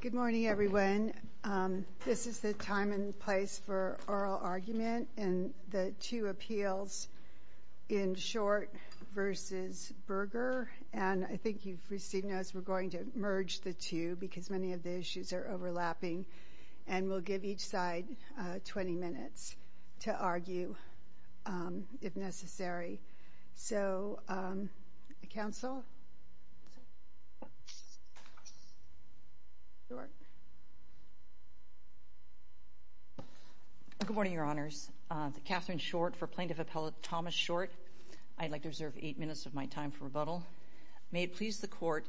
Good morning, everyone. This is the time and place for oral argument in the two appeals in Short v. Berger, and I think you've received notes we're going to merge the two because many of the issues are overlapping, and we'll give each side 20 minutes to argue if necessary. Good morning, Your Honors. Katherine Short for Plaintiff Appellate Thomas Short. I'd like to reserve eight minutes of my time for rebuttal. May it please the Court,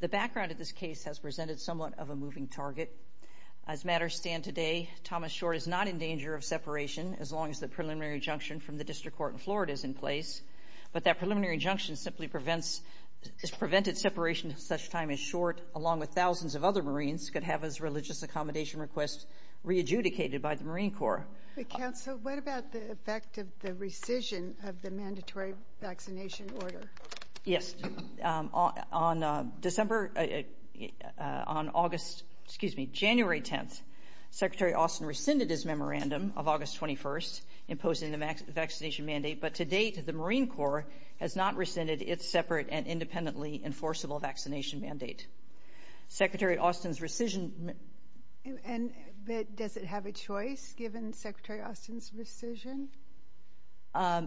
the background of this case has presented somewhat of a moving target. As matters stand today, Thomas Short is not in place, but that preliminary injunction simply prevents, has prevented separation at such time as Short, along with thousands of other Marines, could have his religious accommodation request re-adjudicated by the Marine Corps. Counsel, what about the effect of the rescission of the mandatory vaccination order? Yes, on December, on August, excuse me, January 10th, Secretary Austin rescinded his memorandum of August 21st, imposing the vaccination mandate, but to date, the Marine Corps has not rescinded its separate and independently enforceable vaccination mandate. Secretary Austin's rescission... And does it have a choice given Secretary Austin's rescission?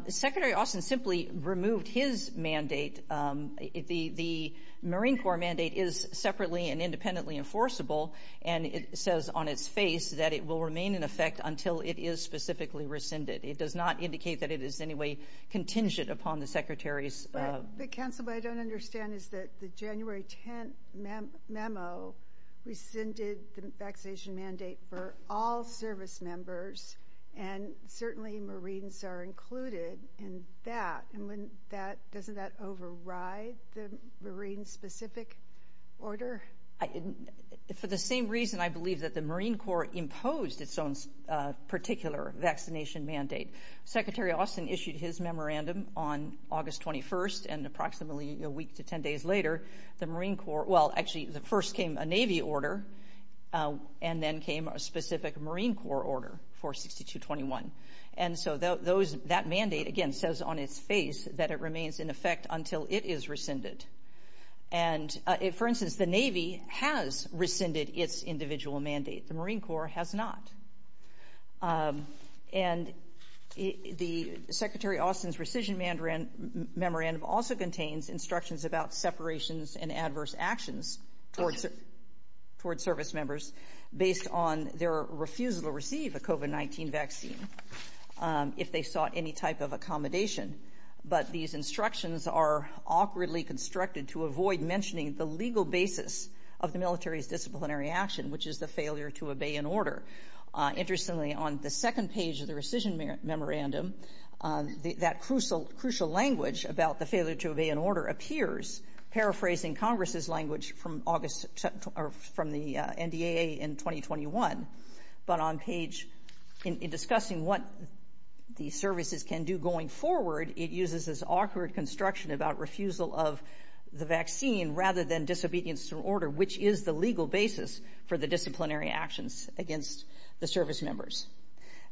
Secretary Austin simply removed his mandate. The Marine Corps mandate is separately and independently enforceable, and it says on its face that it will remain in effect until it is specifically rescinded. It does not indicate that it is in any way contingent upon the Secretary's... But, Counsel, what I don't understand is that the January 10th memo rescinded the vaccination mandate for all service members, and certainly Marines are included in that, and wouldn't that, doesn't that override the Marine-specific order? For the same reason, I believe that the Marine Corps imposed its own particular vaccination mandate. Secretary Austin issued his memorandum on August 21st, and approximately a week to 10 days later, the Marine Corps... Well, actually, first came a Navy order, and then came a specific Marine Corps order for 6221. And so that mandate, again, says on its face that it remains in effect until it is rescinded. And, for instance, the Navy has rescinded its individual mandate. The Marine Corps has not. And the Secretary Austin's rescission memorandum also contains instructions about separations and adverse actions towards service members based on their refusal to receive a COVID-19 vaccine if they sought any type of but these instructions are awkwardly constructed to avoid mentioning the legal basis of the military's disciplinary action, which is the failure to obey an order. Interestingly, on the second page of the rescission memorandum, that crucial language about the failure to obey an order appears, paraphrasing Congress's language from the NDAA in 2021. But on page... In this awkward construction about refusal of the vaccine rather than disobedience to an order, which is the legal basis for the disciplinary actions against the service members.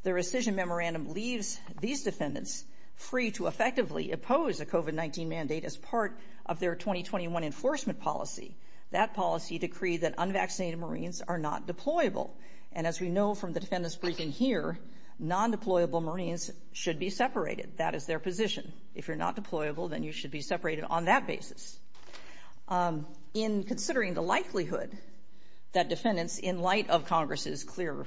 The rescission memorandum leaves these defendants free to effectively oppose a COVID-19 mandate as part of their 2021 enforcement policy. That policy decreed that unvaccinated Marines are not deployable. And as we know from the defendants' briefing here, non-deployable Marines should be if you're not deployable, then you should be separated on that basis. In considering the likelihood that defendants, in light of Congress's clear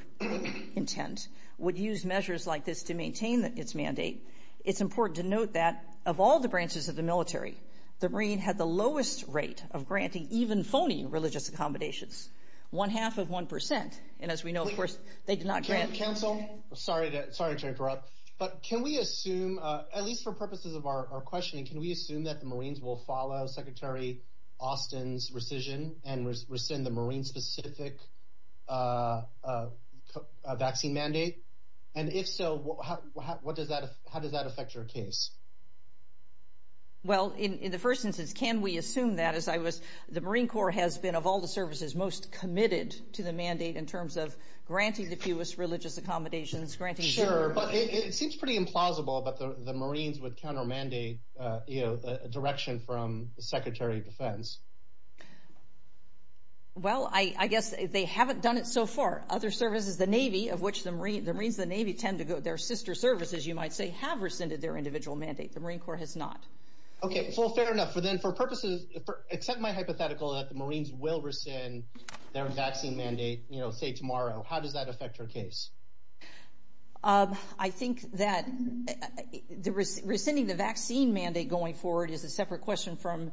intent, would use measures like this to maintain its mandate, it's important to note that of all the branches of the military, the Marine had the lowest rate of granting even phony religious accommodations, one half of 1%. And as we know, of course, they did not grant... Counsel, sorry to interrupt. But can we assume, at least for purposes of our questioning, can we assume that the Marines will follow Secretary Austin's rescission and rescind the Marine-specific vaccine mandate? And if so, how does that affect your case? Well, in the first instance, can we assume that? As I was... The Marine Corps has been, of all the services, most committed to the mandate in terms of granting the fewest religious accommodations, granting... Sure. But it seems pretty implausible that the Marines would counter-mandate a direction from the Secretary of Defense. Well, I guess they haven't done it so far. Other services, the Navy, of which the Marines of the Navy tend to go... Their sister services, you might say, have rescinded their individual mandate. The Marine Corps has not. Okay. Well, fair enough. For purposes... Accept my hypothetical that the Marines will rescind their vaccine mandate, say, tomorrow. How does that affect your case? I think that rescinding the vaccine mandate going forward is a separate question from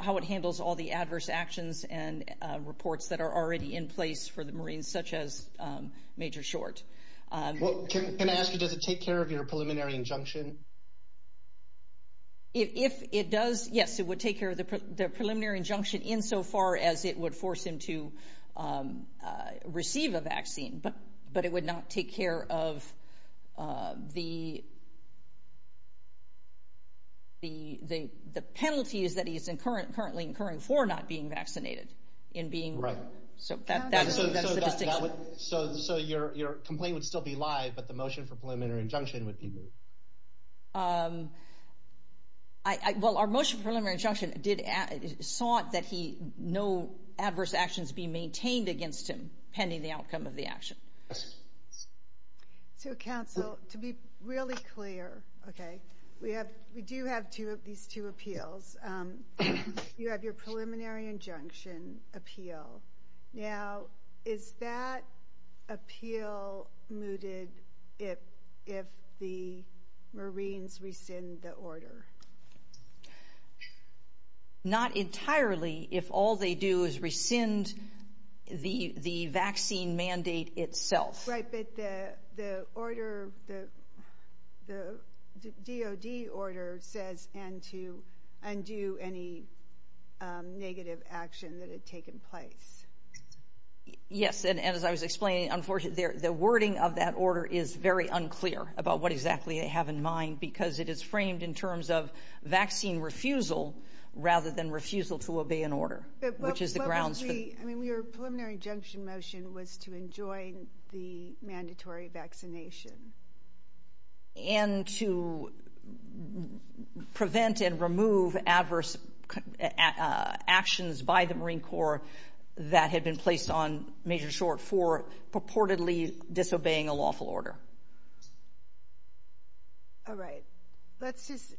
how it handles all the adverse actions and reports that are already in place for the Marines, such as Major Short. Can I ask you, does it take care of your preliminary injunction? If it does, yes, it would take care of the preliminary injunction insofar as it would force him to receive a vaccine, but it would not take care of the penalties that he's currently incurring for not being vaccinated. Right. So that's the distinction. So your complaint would be live, but the motion for preliminary injunction would be moved? Well, our motion for preliminary injunction sought that no adverse actions be maintained against him pending the outcome of the action. So, counsel, to be really clear, okay, we do have these two appeals. You have your preliminary injunction appeal. Now, is that appeal mooted if the Marines rescind the order? Not entirely, if all they do is rescind the vaccine mandate itself. Right, but the order, the DOD order says to undo any negative action that had taken place. Yes, and as I was explaining, unfortunately, the wording of that order is very unclear about what exactly they have in mind because it is framed in terms of vaccine refusal rather than refusal to obey an order, which is the grounds for... But what was the... I mean, your preliminary injunction motion was to enjoin the mandatory vaccination. And to prevent and remove adverse actions by the Marine Corps that had been placed on Major Short for purportedly disobeying a lawful order. All right. Let's just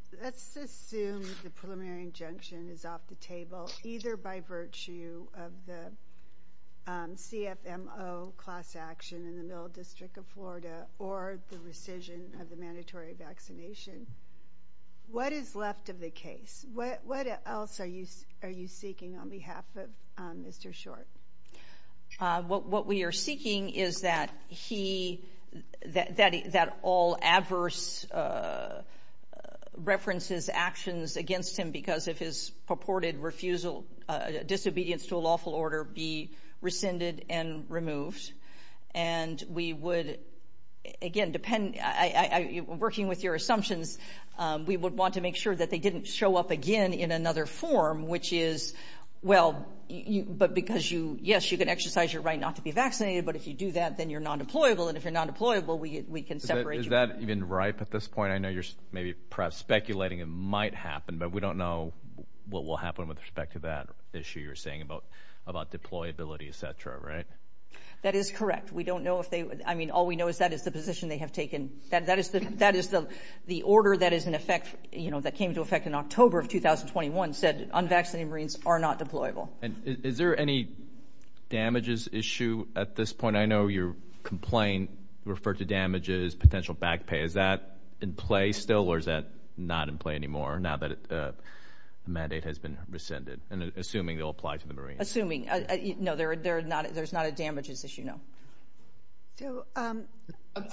assume the preliminary injunction is off the table, either by virtue of the CFMO class action in the Middle District of Florida or the rescission of the mandatory vaccination. What is left of the case? What else are you seeking on behalf of Mr. Short? What we are seeking is that he, that all adverse references actions against him because of his refusal, disobedience to a lawful order be rescinded and removed. And we would, again, depending... Working with your assumptions, we would want to make sure that they didn't show up again in another form, which is, well, but because you, yes, you can exercise your right not to be vaccinated, but if you do that, then you're non-deployable. And if you're non-deployable, we can separate you. Is that even ripe at this point? I know you're perhaps speculating it might happen, but we don't know what will happen with respect to that issue you're saying about deployability, et cetera, right? That is correct. We don't know if they, I mean, all we know is that is the position they have taken. That is the order that is in effect, you know, that came into effect in October of 2021 said unvaccinated Marines are not deployable. And is there any damages issue at this point? I know your complaint referred to damages, potential back pay. Is that in play still or is that not in play anymore now that the mandate has been rescinded? And assuming they'll apply to the Marines. Assuming. No, there's not a damages issue, no. I'm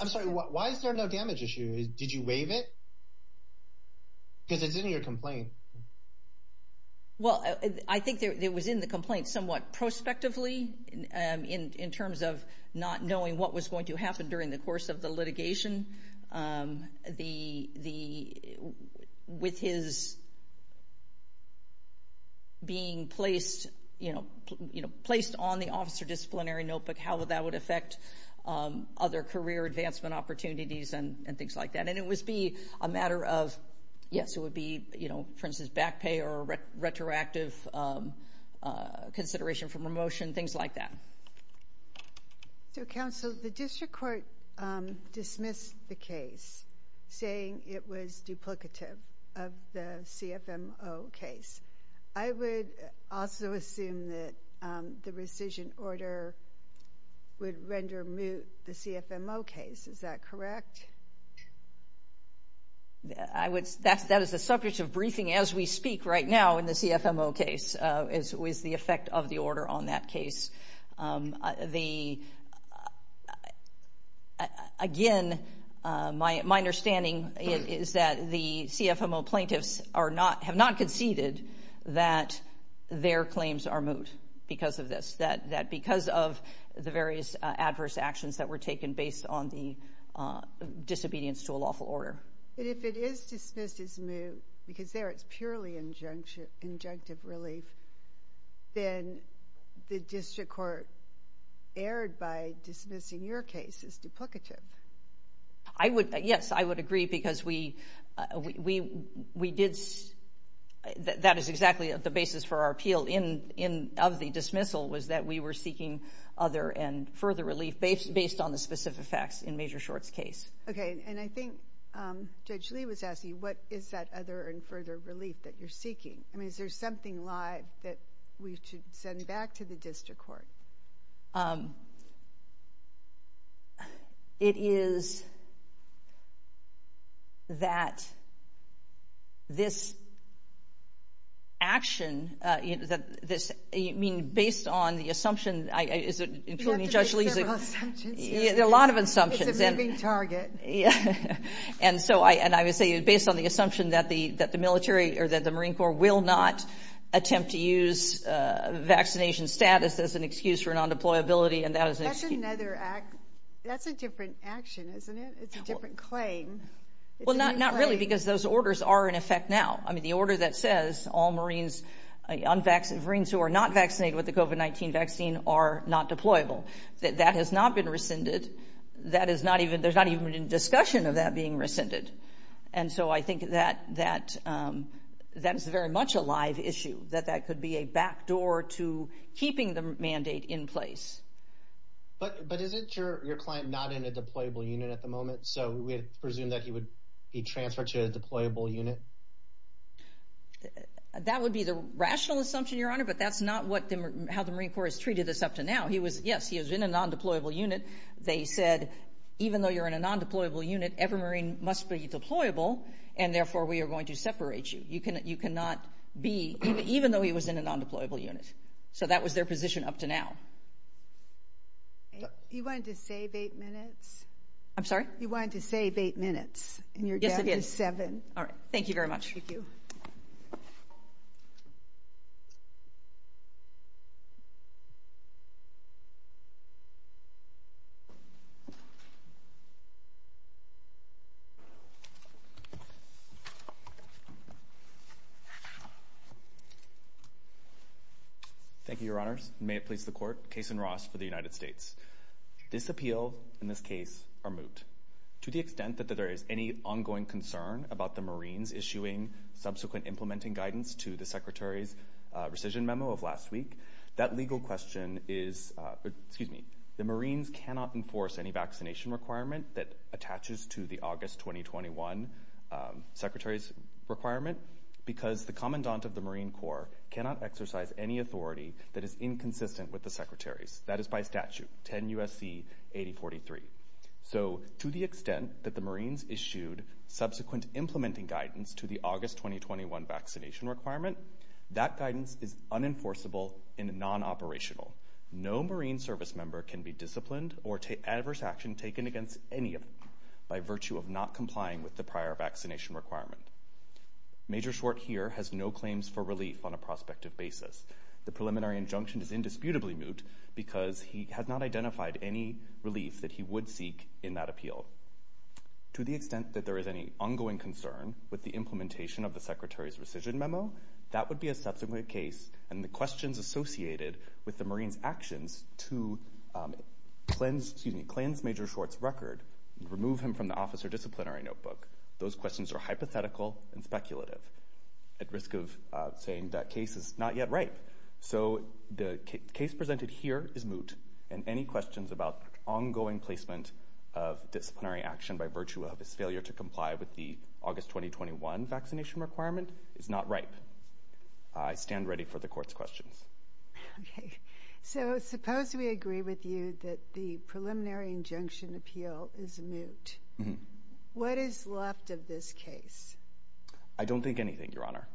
sorry, why is there no damage issue? Did you waive it? Because it's in your complaint. Well, I think it was in the complaint somewhat prospectively in terms of not knowing what was going to happen during the course of the litigation. With his being placed, you know, placed on the officer disciplinary notebook, how that would affect other career advancement opportunities and things like that. And it would be a matter of, yes, it would be, you know, for instance, back pay or retroactive consideration for promotion, things like that. So, counsel, the district court dismissed the case saying it was duplicative of the CFMO case. I would also assume that the rescission order would render moot the CFMO case. Is that correct? Yes. That is the subject of briefing as we speak right now in the CFMO case is the effect of the order on that case. Again, my understanding is that the CFMO plaintiffs have not conceded that their claims are moot because of this, that because of the various adverse actions that were disobedience to a lawful order. But if it is dismissed as moot because there it's purely injunctive relief, then the district court erred by dismissing your case as duplicative. I would, yes, I would agree because we did, that is exactly the basis for our appeal in of the dismissal was that we were seeking other and further relief based on the specific facts in the case. Okay. And I think Judge Lee was asking, what is that other and further relief that you're seeking? I mean, is there something live that we should send back to the district court? It is that this action, this, I mean, based on the assumption, including Judge Lee's, yeah, there are a lot of assumptions. It's a moving target. Yeah. And so I, and I would say based on the assumption that the, that the military or that the Marine Corps will not attempt to use a vaccination status as an excuse for non-deployability. And that is another act. That's a different action, isn't it? It's a different claim. Well, not, not really because those orders are in effect now. I mean, the order that says all Marines, unvaccinated Marines who are not vaccinated with the COVID-19 vaccine are not deployable, that that has not been rescinded. That is not even, there's not even a discussion of that being rescinded. And so I think that, that, that is very much a live issue, that that could be a backdoor to keeping the mandate in place. But, but isn't your, your client not in a deployable unit at the moment? So we presume that he would be transferred to a deployable unit. That would be the rational assumption, Your Honor, but that's not what the, how the Marine Corps has treated this up to now. He was, yes, he was in a non-deployable unit. They said, even though you're in a non-deployable unit, every Marine must be deployable, and therefore we are going to separate you. You cannot, you cannot be, even though he was in a non-deployable unit. So that was their position up to now. You wanted to save eight minutes? I'm sorry? You wanted to save eight minutes, and you're down to seven. All right, thank you very much. Thank you, Your Honors. May it please the Court, Kason Ross for the United States. This appeal and this case are moved. To the extent that there is any ongoing concern about the Marines issuing subsequent implementing guidance to the Secretary's rescission memo of last week, that legal question is, excuse me, the Marines cannot enforce any vaccination requirement that attaches to the August 2021 Secretary's requirement because the Commandant of the Marine Corps cannot exercise any authority that is inconsistent with the Secretary's. That is by statute, 10 U.S.C. 8043. So to the extent that the Marines issued subsequent implementing guidance to the August 2021 vaccination requirement, that guidance is unenforceable and non-operational. No Marine service member can be disciplined or take adverse action taken against any of them by virtue of not complying with the prior vaccination requirement. Major Schwart here has no claims for relief on a prospective basis. The preliminary injunction is indisputably moot because he has not identified any relief that he would seek in that appeal. To the extent that there is any ongoing concern with the implementation of the Secretary's rescission memo, that would be a subsequent case and the questions associated with the Marines' actions to cleanse – excuse me, cleanse Major Schwart's record, remove him from the officer disciplinary notebook, those questions are hypothetical and speculative at risk of saying that case is not yet ripe. So the case presented here is moot and any questions about ongoing placement of disciplinary action by virtue of his failure to comply with the August 2021 vaccination requirement is not ripe. I stand ready for the Court's questions. Okay. So suppose we agree with you that the preliminary injunction appeal is moot. What is left of this case? I don't think anything, Your Honor.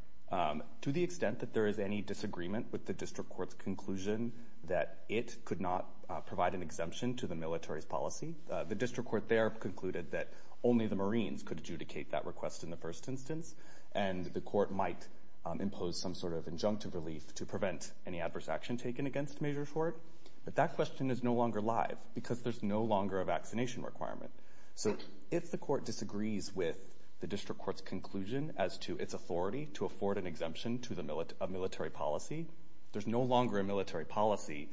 To the extent that there is any disagreement with the District Court's conclusion that it could not provide an exemption to the military's policy, the District Court there concluded that only the Marines could adjudicate that request in the first instance and the Court might impose some sort of injunctive relief to prevent any adverse action taken against Major Schwart, but that question is no longer live because there's no longer a vaccination requirement. So if the Court disagrees with the District Court's conclusion as to its authority to afford an exemption to a military policy, there's no longer a military policy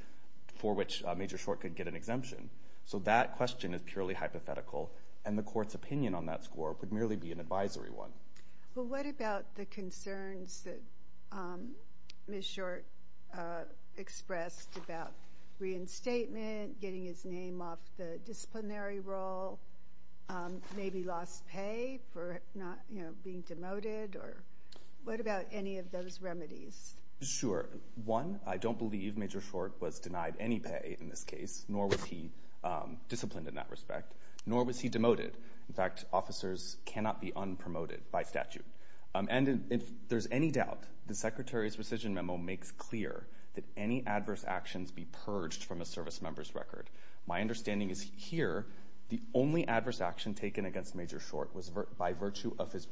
for which Major Schwart could get an exemption. So that question is purely hypothetical and the Court's opinion on that score would merely be an advisory one. But what about the concerns that Ms. Schwart expressed about reinstatement, getting his name off the disciplinary roll, maybe lost pay for not being demoted? What about any of those remedies? Sure. One, I don't believe Major Schwart was denied any pay in this case, nor was he disciplined in that respect, nor was he demoted. In fact, officers cannot be unpromoted by statute. And if there's any doubt, the Secretary's rescission memo makes clear that any adverse actions be purged from a service member's record. My understanding is here the only adverse action taken against Major Schwart was by virtue of his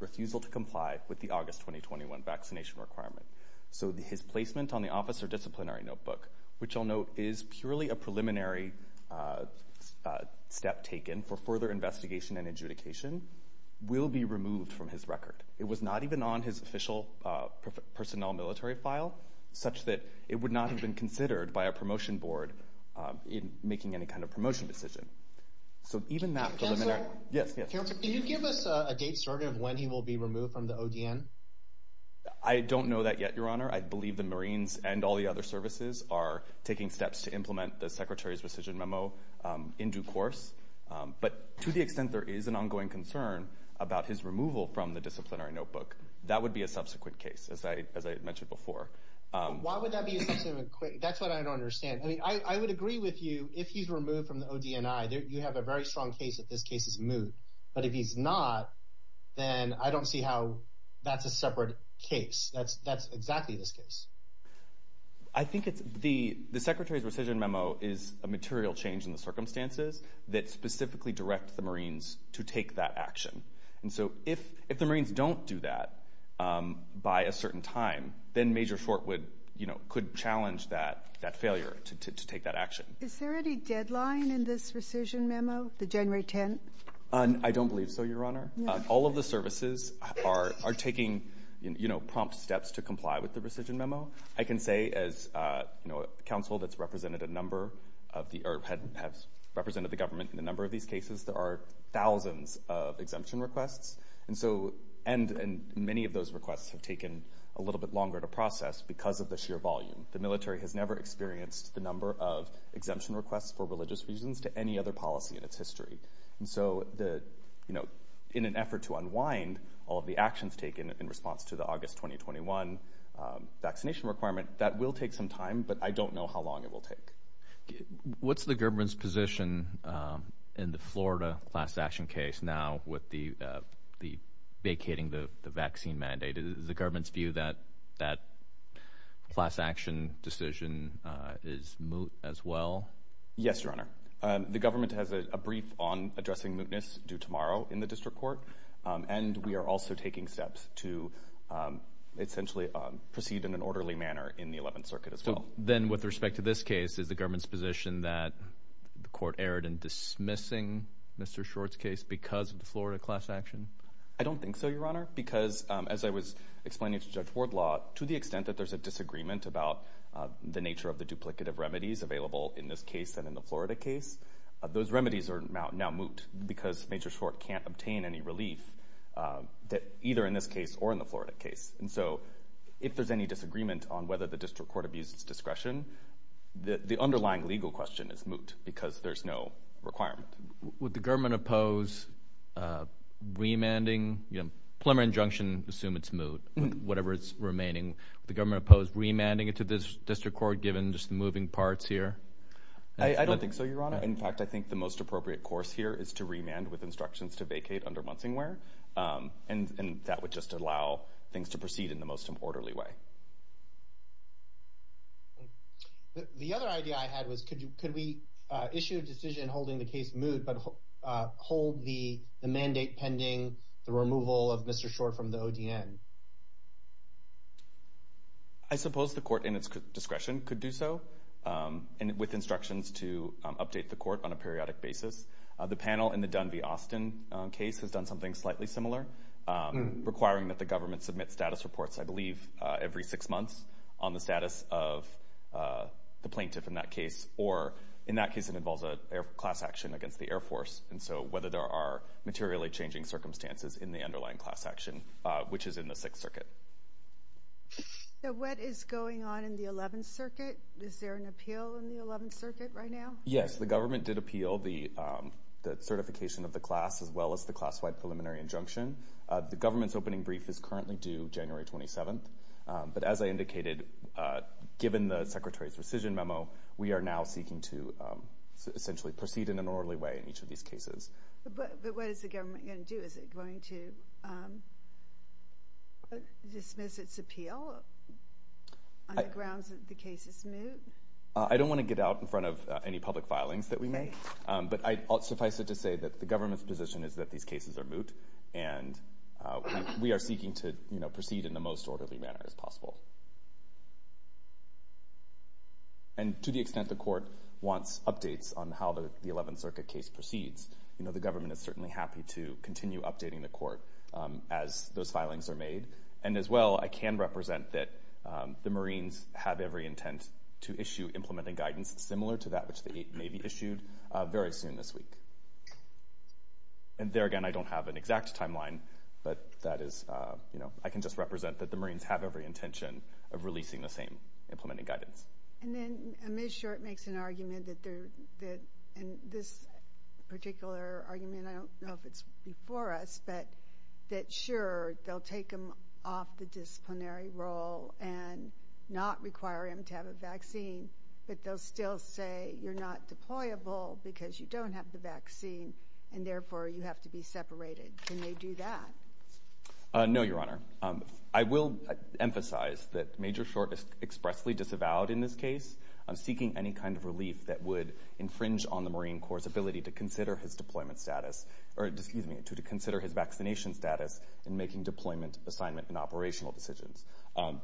refusal to comply with the August 2021 vaccination requirement. So his placement on the officer disciplinary notebook, which I'll note is purely a preliminary step taken for further investigation and adjudication, will be removed from his record. It was not even on his official personnel military file, such that it would not have been considered by a promotion board in making any kind of promotion decision. So even that preliminary... Counselor? Yes, yes. Counselor, can you give us a date, sort of, when he will be removed from the ODN? I don't know that yet, Your Honor. I believe the Marines and all the other services are taking steps to implement the Secretary's rescission memo in due course. But to the extent there is an ongoing concern about his removal from the disciplinary notebook, that would be a subsequent case, as I mentioned before. Why would that be a subsequent case? That's what I don't understand. I mean, I would agree with you, if he's removed from the ODNI, you have a very strong case that this case is moot. But if he's not, then I don't see how that's a separate case. That's exactly this case. I think the Secretary's rescission memo is a material change in the circumstances that specifically direct the Marines to take that action. And so if the Marines don't do that by a certain time, then Major Short would, you know, could challenge that failure to take that action. Is there any deadline in this rescission memo, the January 10th? I don't believe so, Your Honor. All of the services are taking, you know, prompt steps to comply with the rescission memo. I can say as, you know, counsel that's represented a number of the, or have represented the government in a number of these cases, there are thousands of exemption requests. And so, and many of those requests have taken a little bit longer to process because of the sheer volume. The military has never experienced the number of exemption requests for religious reasons to any other policy in its history. And so the, you know, in an effort to unwind all of the actions taken in response to the August 2021 vaccination requirement, that will take some time, but I don't know how long it will take. What's the government's position in the Florida class action case now with the vacating the vaccine mandate? Is the government's view that that class action decision is moot as well? Yes, Your Honor. The government has a brief on addressing mootness due tomorrow in the district court. And we are also taking steps to essentially proceed in an orderly manner in the 11th Circuit as well. Then with respect to this case, is the government's position that the court erred in dismissing Mr. Short's case because of the Florida class action? I don't think so, Your Honor, because as I was explaining to Judge Wardlaw, to the extent that there's a disagreement about the nature of the duplicative remedies available in this case and in the Florida case, those remedies are now moot because Major Short can't obtain any relief that either in this case or in the Florida case. And so if there's any disagreement on whether the district court abuses discretion, the underlying legal question is moot because there's no requirement. Would the government oppose remanding, you know, preliminary injunction, assume it's moot, whatever is remaining. Would the government oppose remanding it to this district court given just the moving parts here? I don't think so, Your Honor. In fact, I think the most appropriate course here is to remand with instructions to vacate under Munsingware. And that would just allow things to proceed in the most orderly way. Okay. The other idea I had was could we issue a decision holding the case moot but hold the mandate pending the removal of Mr. Short from the ODN? I suppose the court in its discretion could do so with instructions to update the court on a periodic basis. The panel in the Dunby-Austin case has done something slightly similar, every six months, on the status of the plaintiff in that case. Or in that case, it involves a class action against the Air Force. And so whether there are materially changing circumstances in the underlying class action, which is in the Sixth Circuit. Now, what is going on in the Eleventh Circuit? Is there an appeal in the Eleventh Circuit right now? Yes, the government did appeal the certification of the class as well as the class-wide preliminary injunction. The government's opening brief is currently due January 27th. But as I indicated, given the Secretary's rescission memo, we are now seeking to essentially proceed in an orderly way in each of these cases. But what is the government going to do? Is it going to dismiss its appeal on the grounds that the case is moot? I don't want to get out in front of any public filings that we make. But suffice it to say that the government's position is that these cases are moot. And we are seeking to proceed in the most orderly manner as possible. And to the extent the court wants updates on how the Eleventh Circuit case proceeds, the government is certainly happy to continue updating the court as those filings are made. And as well, I can represent that the Marines have every intent to issue implementing guidance similar to that which may be issued very soon this week. And there again, I don't have an exact timeline, but that is, you know, I can just represent that the Marines have every intention of releasing the same implementing guidance. And then Ms. Short makes an argument that they're – and this particular argument, I don't know if it's before us, but that sure, they'll take them off the disciplinary role and not require them to have a vaccine, but they'll still say you're not deployable because you don't have the vaccine, and therefore you have to be separated. Can they do that? No, Your Honor. I will emphasize that Major Short is expressly disavowed in this case, seeking any kind of relief that would infringe on the Marine Corps' ability to consider his deployment status – or, excuse me, to consider his vaccination status in making deployment, assignment, and operational decisions.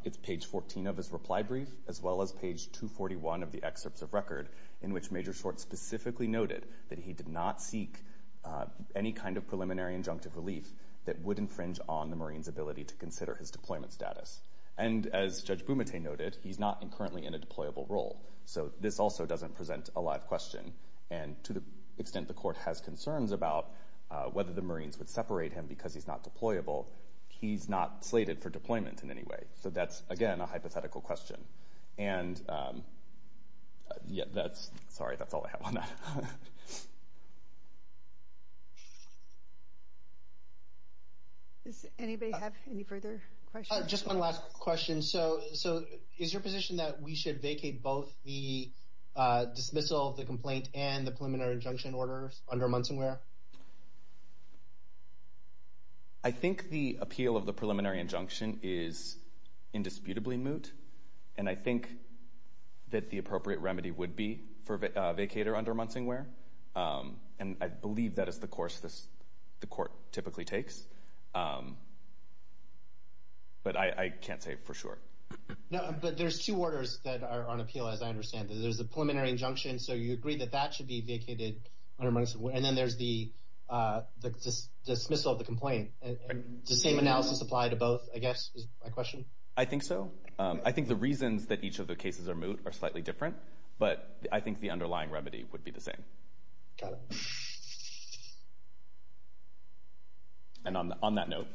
It's page 14 of his reply brief, as well as page 241 of the excerpts of record in which Major Short specifically noted that he did not seek any kind of preliminary injunctive relief that would infringe on the Marines' ability to consider his deployment status. And as Judge Bumate noted, he's not currently in a deployable role, so this also doesn't present a live question. And to the extent the Court has concerns about whether the Marines would separate him because he's not deployable, he's not slated for deployment in any way. So that's, again, a hypothetical question. And – yeah, that's – sorry, that's all I have on that. MS FARRELL-BROWNE. Does anybody have any further questions? QUESTION. Just one last question. So is your position that we should vacate both the dismissal of the complaint and the preliminary injunction order under Munsonware? MR PRICE. I think the appeal of the preliminary injunction is indisputably moot, and I think that the appropriate remedy would be for a vacater under Munsonware, and I believe that is the course the Court typically takes. But I can't say for sure. MR PRICE. No, but there's two orders that are on appeal, as I understand it. There's the preliminary injunction, so you agree that that should be vacated under Munsonware, and then there's the dismissal of the complaint. Does the same analysis apply to both, I guess, is my question? MR PRICE. I think so. I think the reasons that each of the cases are moot are slightly different, but I think the underlying remedy would be the same. Got it. MR PRICE. And on that note,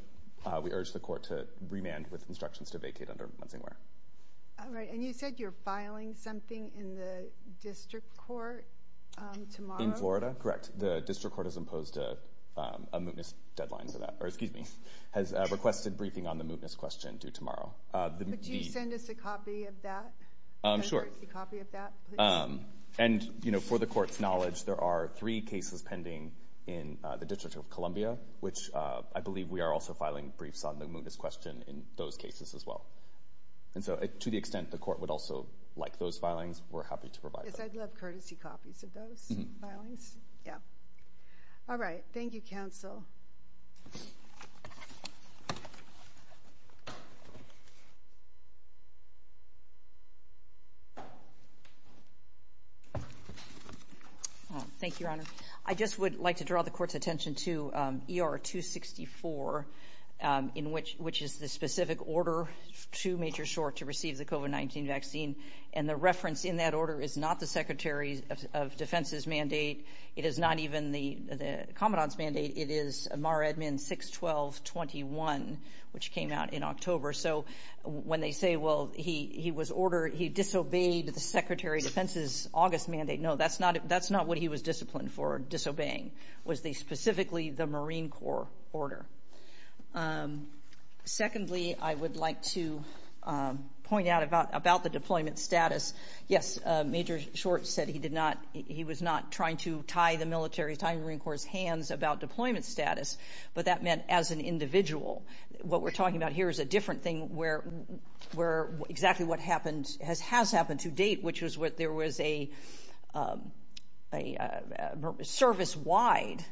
we urge the Court to remand with instructions to vacate under Munsonware. MS FARRELL-BROWNE. All right. And you said you're filing something in the district court tomorrow? MR PRICE. In Florida? Correct. The district court has imposed a mootness deadline for that – or, excuse me, has requested briefing on the mootness question due tomorrow. MS FARRELL-BROWNE. Do you send us a copy of that? MS FARRELL-BROWNE. A courtesy copy of that? MR PRICE. And, you know, for the Court's knowledge, there are three cases pending in the District of Columbia, which I believe we are also filing briefs on the mootness question in those cases as well. And so, to the extent the Court would also like those filings, we're happy to provide that. MS FARRELL-BROWNE. Yes, I'd love courtesy copies of those filings. Yeah. All right. Thank you, counsel. MS GARRETT. Thank you, Your Honor. I just would like to draw the Court's attention to ER-264, which is the specific order to Major Short to receive the COVID-19 vaccine. And the reference in that order is not the Secretary of Defense's mandate. It is not even the Commandant's mandate. It is MAR-EDMIN-61221, which came out in October. So when they say, well, he was ordered – he disobeyed the Secretary of Defense's August mandate, no, that's not what he was disciplined for, disobeying. It was specifically the Marine Corps order. Secondly, I would like to point out about the deployment status. Yes, Major Short said he did not – he was not trying to tie the military, tie the Marine Corps' hands about deployment status. But that meant as an individual. What we're talking about here is a different thing where exactly what happened – has happened to date, which is there was a service-wide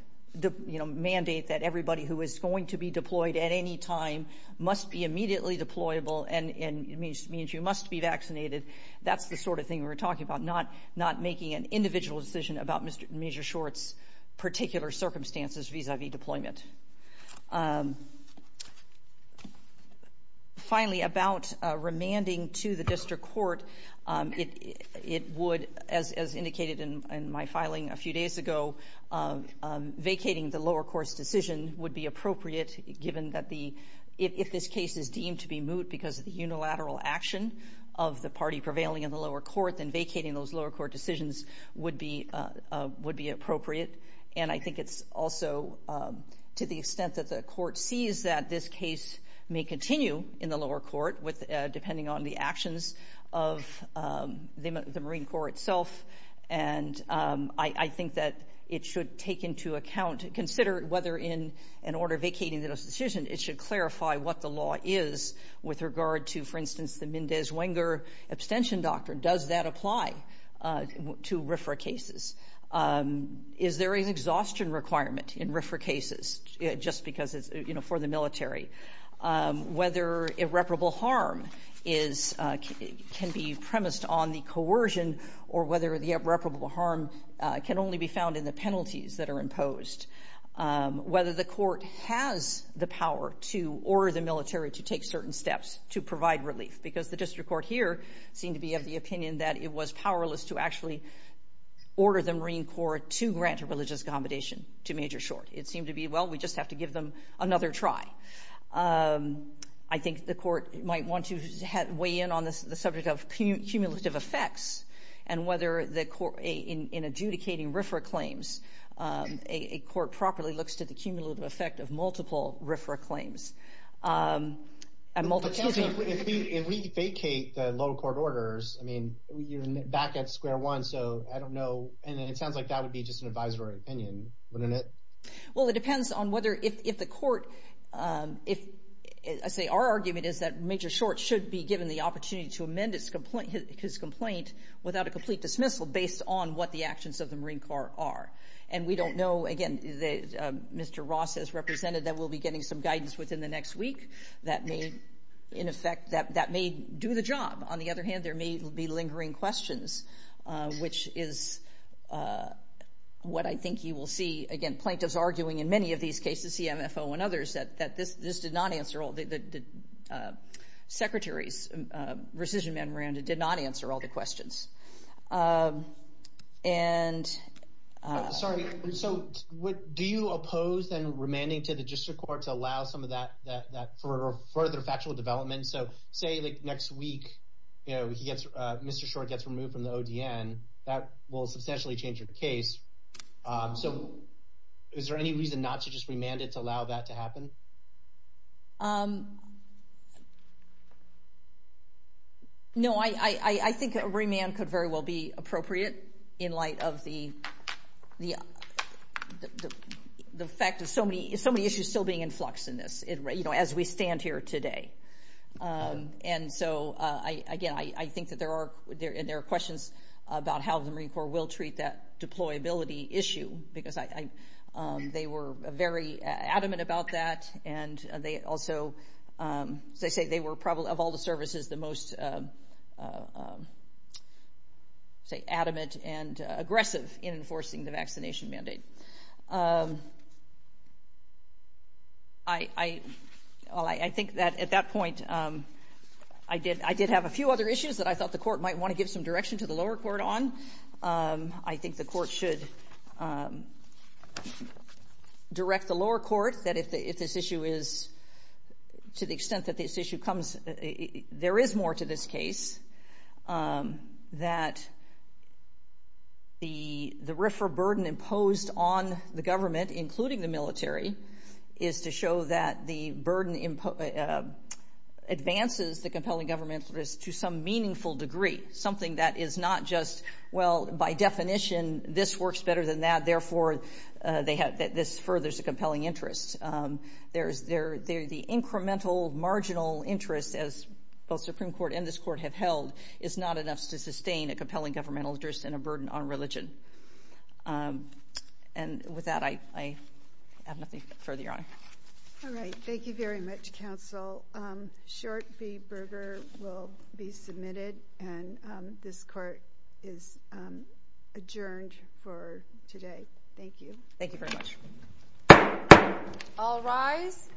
mandate that everybody who is going to be deployed at any time must be immediately deployable and it means you must be vaccinated. That's the sort of thing we're talking about, not making an individual decision about Major Short's particular circumstances vis-à-vis deployment. Finally, about remanding to the district court, it would – as indicated in my filing a few days ago, vacating the lower court's decision would be appropriate given that the – if this case is deemed to be moot because of the unilateral action of the party prevailing in the lower court, then vacating those lower court decisions would be appropriate. And I think it's also – to the extent that the court sees that this case may continue in the lower court with – depending on the actions of the Marine Corps itself. And I think that it should take into account – consider whether in an order vacating the decision, it should clarify what the law is with regard to, for instance, the Mendez-Wenger abstention doctrine. Does that apply to RFRA cases? Is there an exhaustion requirement in RFRA cases just because it's for the military? Whether irreparable harm is – can be premised on the coercion or whether the irreparable harm can only be found in the penalties that are imposed. Whether the court has the power to order the military to take certain steps to provide relief, because the district court here seemed to be of the opinion that it was powerless to actually order the Marine Corps to grant a religious commendation, to make it short. It seemed to be, well, we just have to give them another try. I think the court might want to weigh in on the subject of cumulative effects and whether the court – in adjudicating RFRA claims, a court properly looks to the cumulative effect of multiple RFRA claims. If we vacate the local court orders, I mean, you're back at square one, so I don't know. And it sounds like that would be just an advisory opinion, wouldn't it? Well, it depends on whether – if the court – I say our argument is that Major Short should be given the opportunity to amend his complaint without a complete dismissal based on what the actions of the Marine Corps are. And we don't know – again, Mr. Ross has represented that we'll be getting some guidance within the next week that may, in effect – that may do the job. On the other hand, there may be lingering questions, which is what I think you will see, again, plaintiffs arguing in many of these cases, CMFO and others, that this did not answer all – the Secretary's rescission man, Miranda, did not answer all the questions. And – Sorry. So do you oppose, then, remanding to the district court to allow some of that further factual development? So say, like, next week, you know, he gets – Mr. Short gets removed from the ODN. That will substantially change your case. So is there any reason not to just remand it to allow that to happen? No, I think a remand could very well be appropriate in light of the fact of so many issues still being in flux in this, you know, as we stand here today. And so, again, I think that there are – and there are questions about how the Marine Corps will treat that deployability issue, because I – they were very adamant about that, and they also – as I say, they were probably, of all the services, the most, say, adamant and aggressive in enforcing the vaccination mandate. I – well, I think that at that point, I did have a few other issues that I thought the court might want to give some direction to the lower court on. I think the court should direct the lower court that if this issue is – to the extent that this issue comes – there is more to this case, that the RFRA burden imposed on the government, including the military, is to show that the burden advances the compelling governmental interest to some meaningful degree, something that is not just, well, by definition, this works better than that, therefore, they have – that this furthers a compelling interest. There is – the incremental marginal interest, as both Supreme Court and this court have held, is not enough to sustain a compelling governmental interest and a burden on religion. And with that, I have nothing further, Your Honor. All right. Thank you very much, counsel. Short v. Berger will be submitted, and this court is adjourned for today. Thank you. Thank you very much. All rise.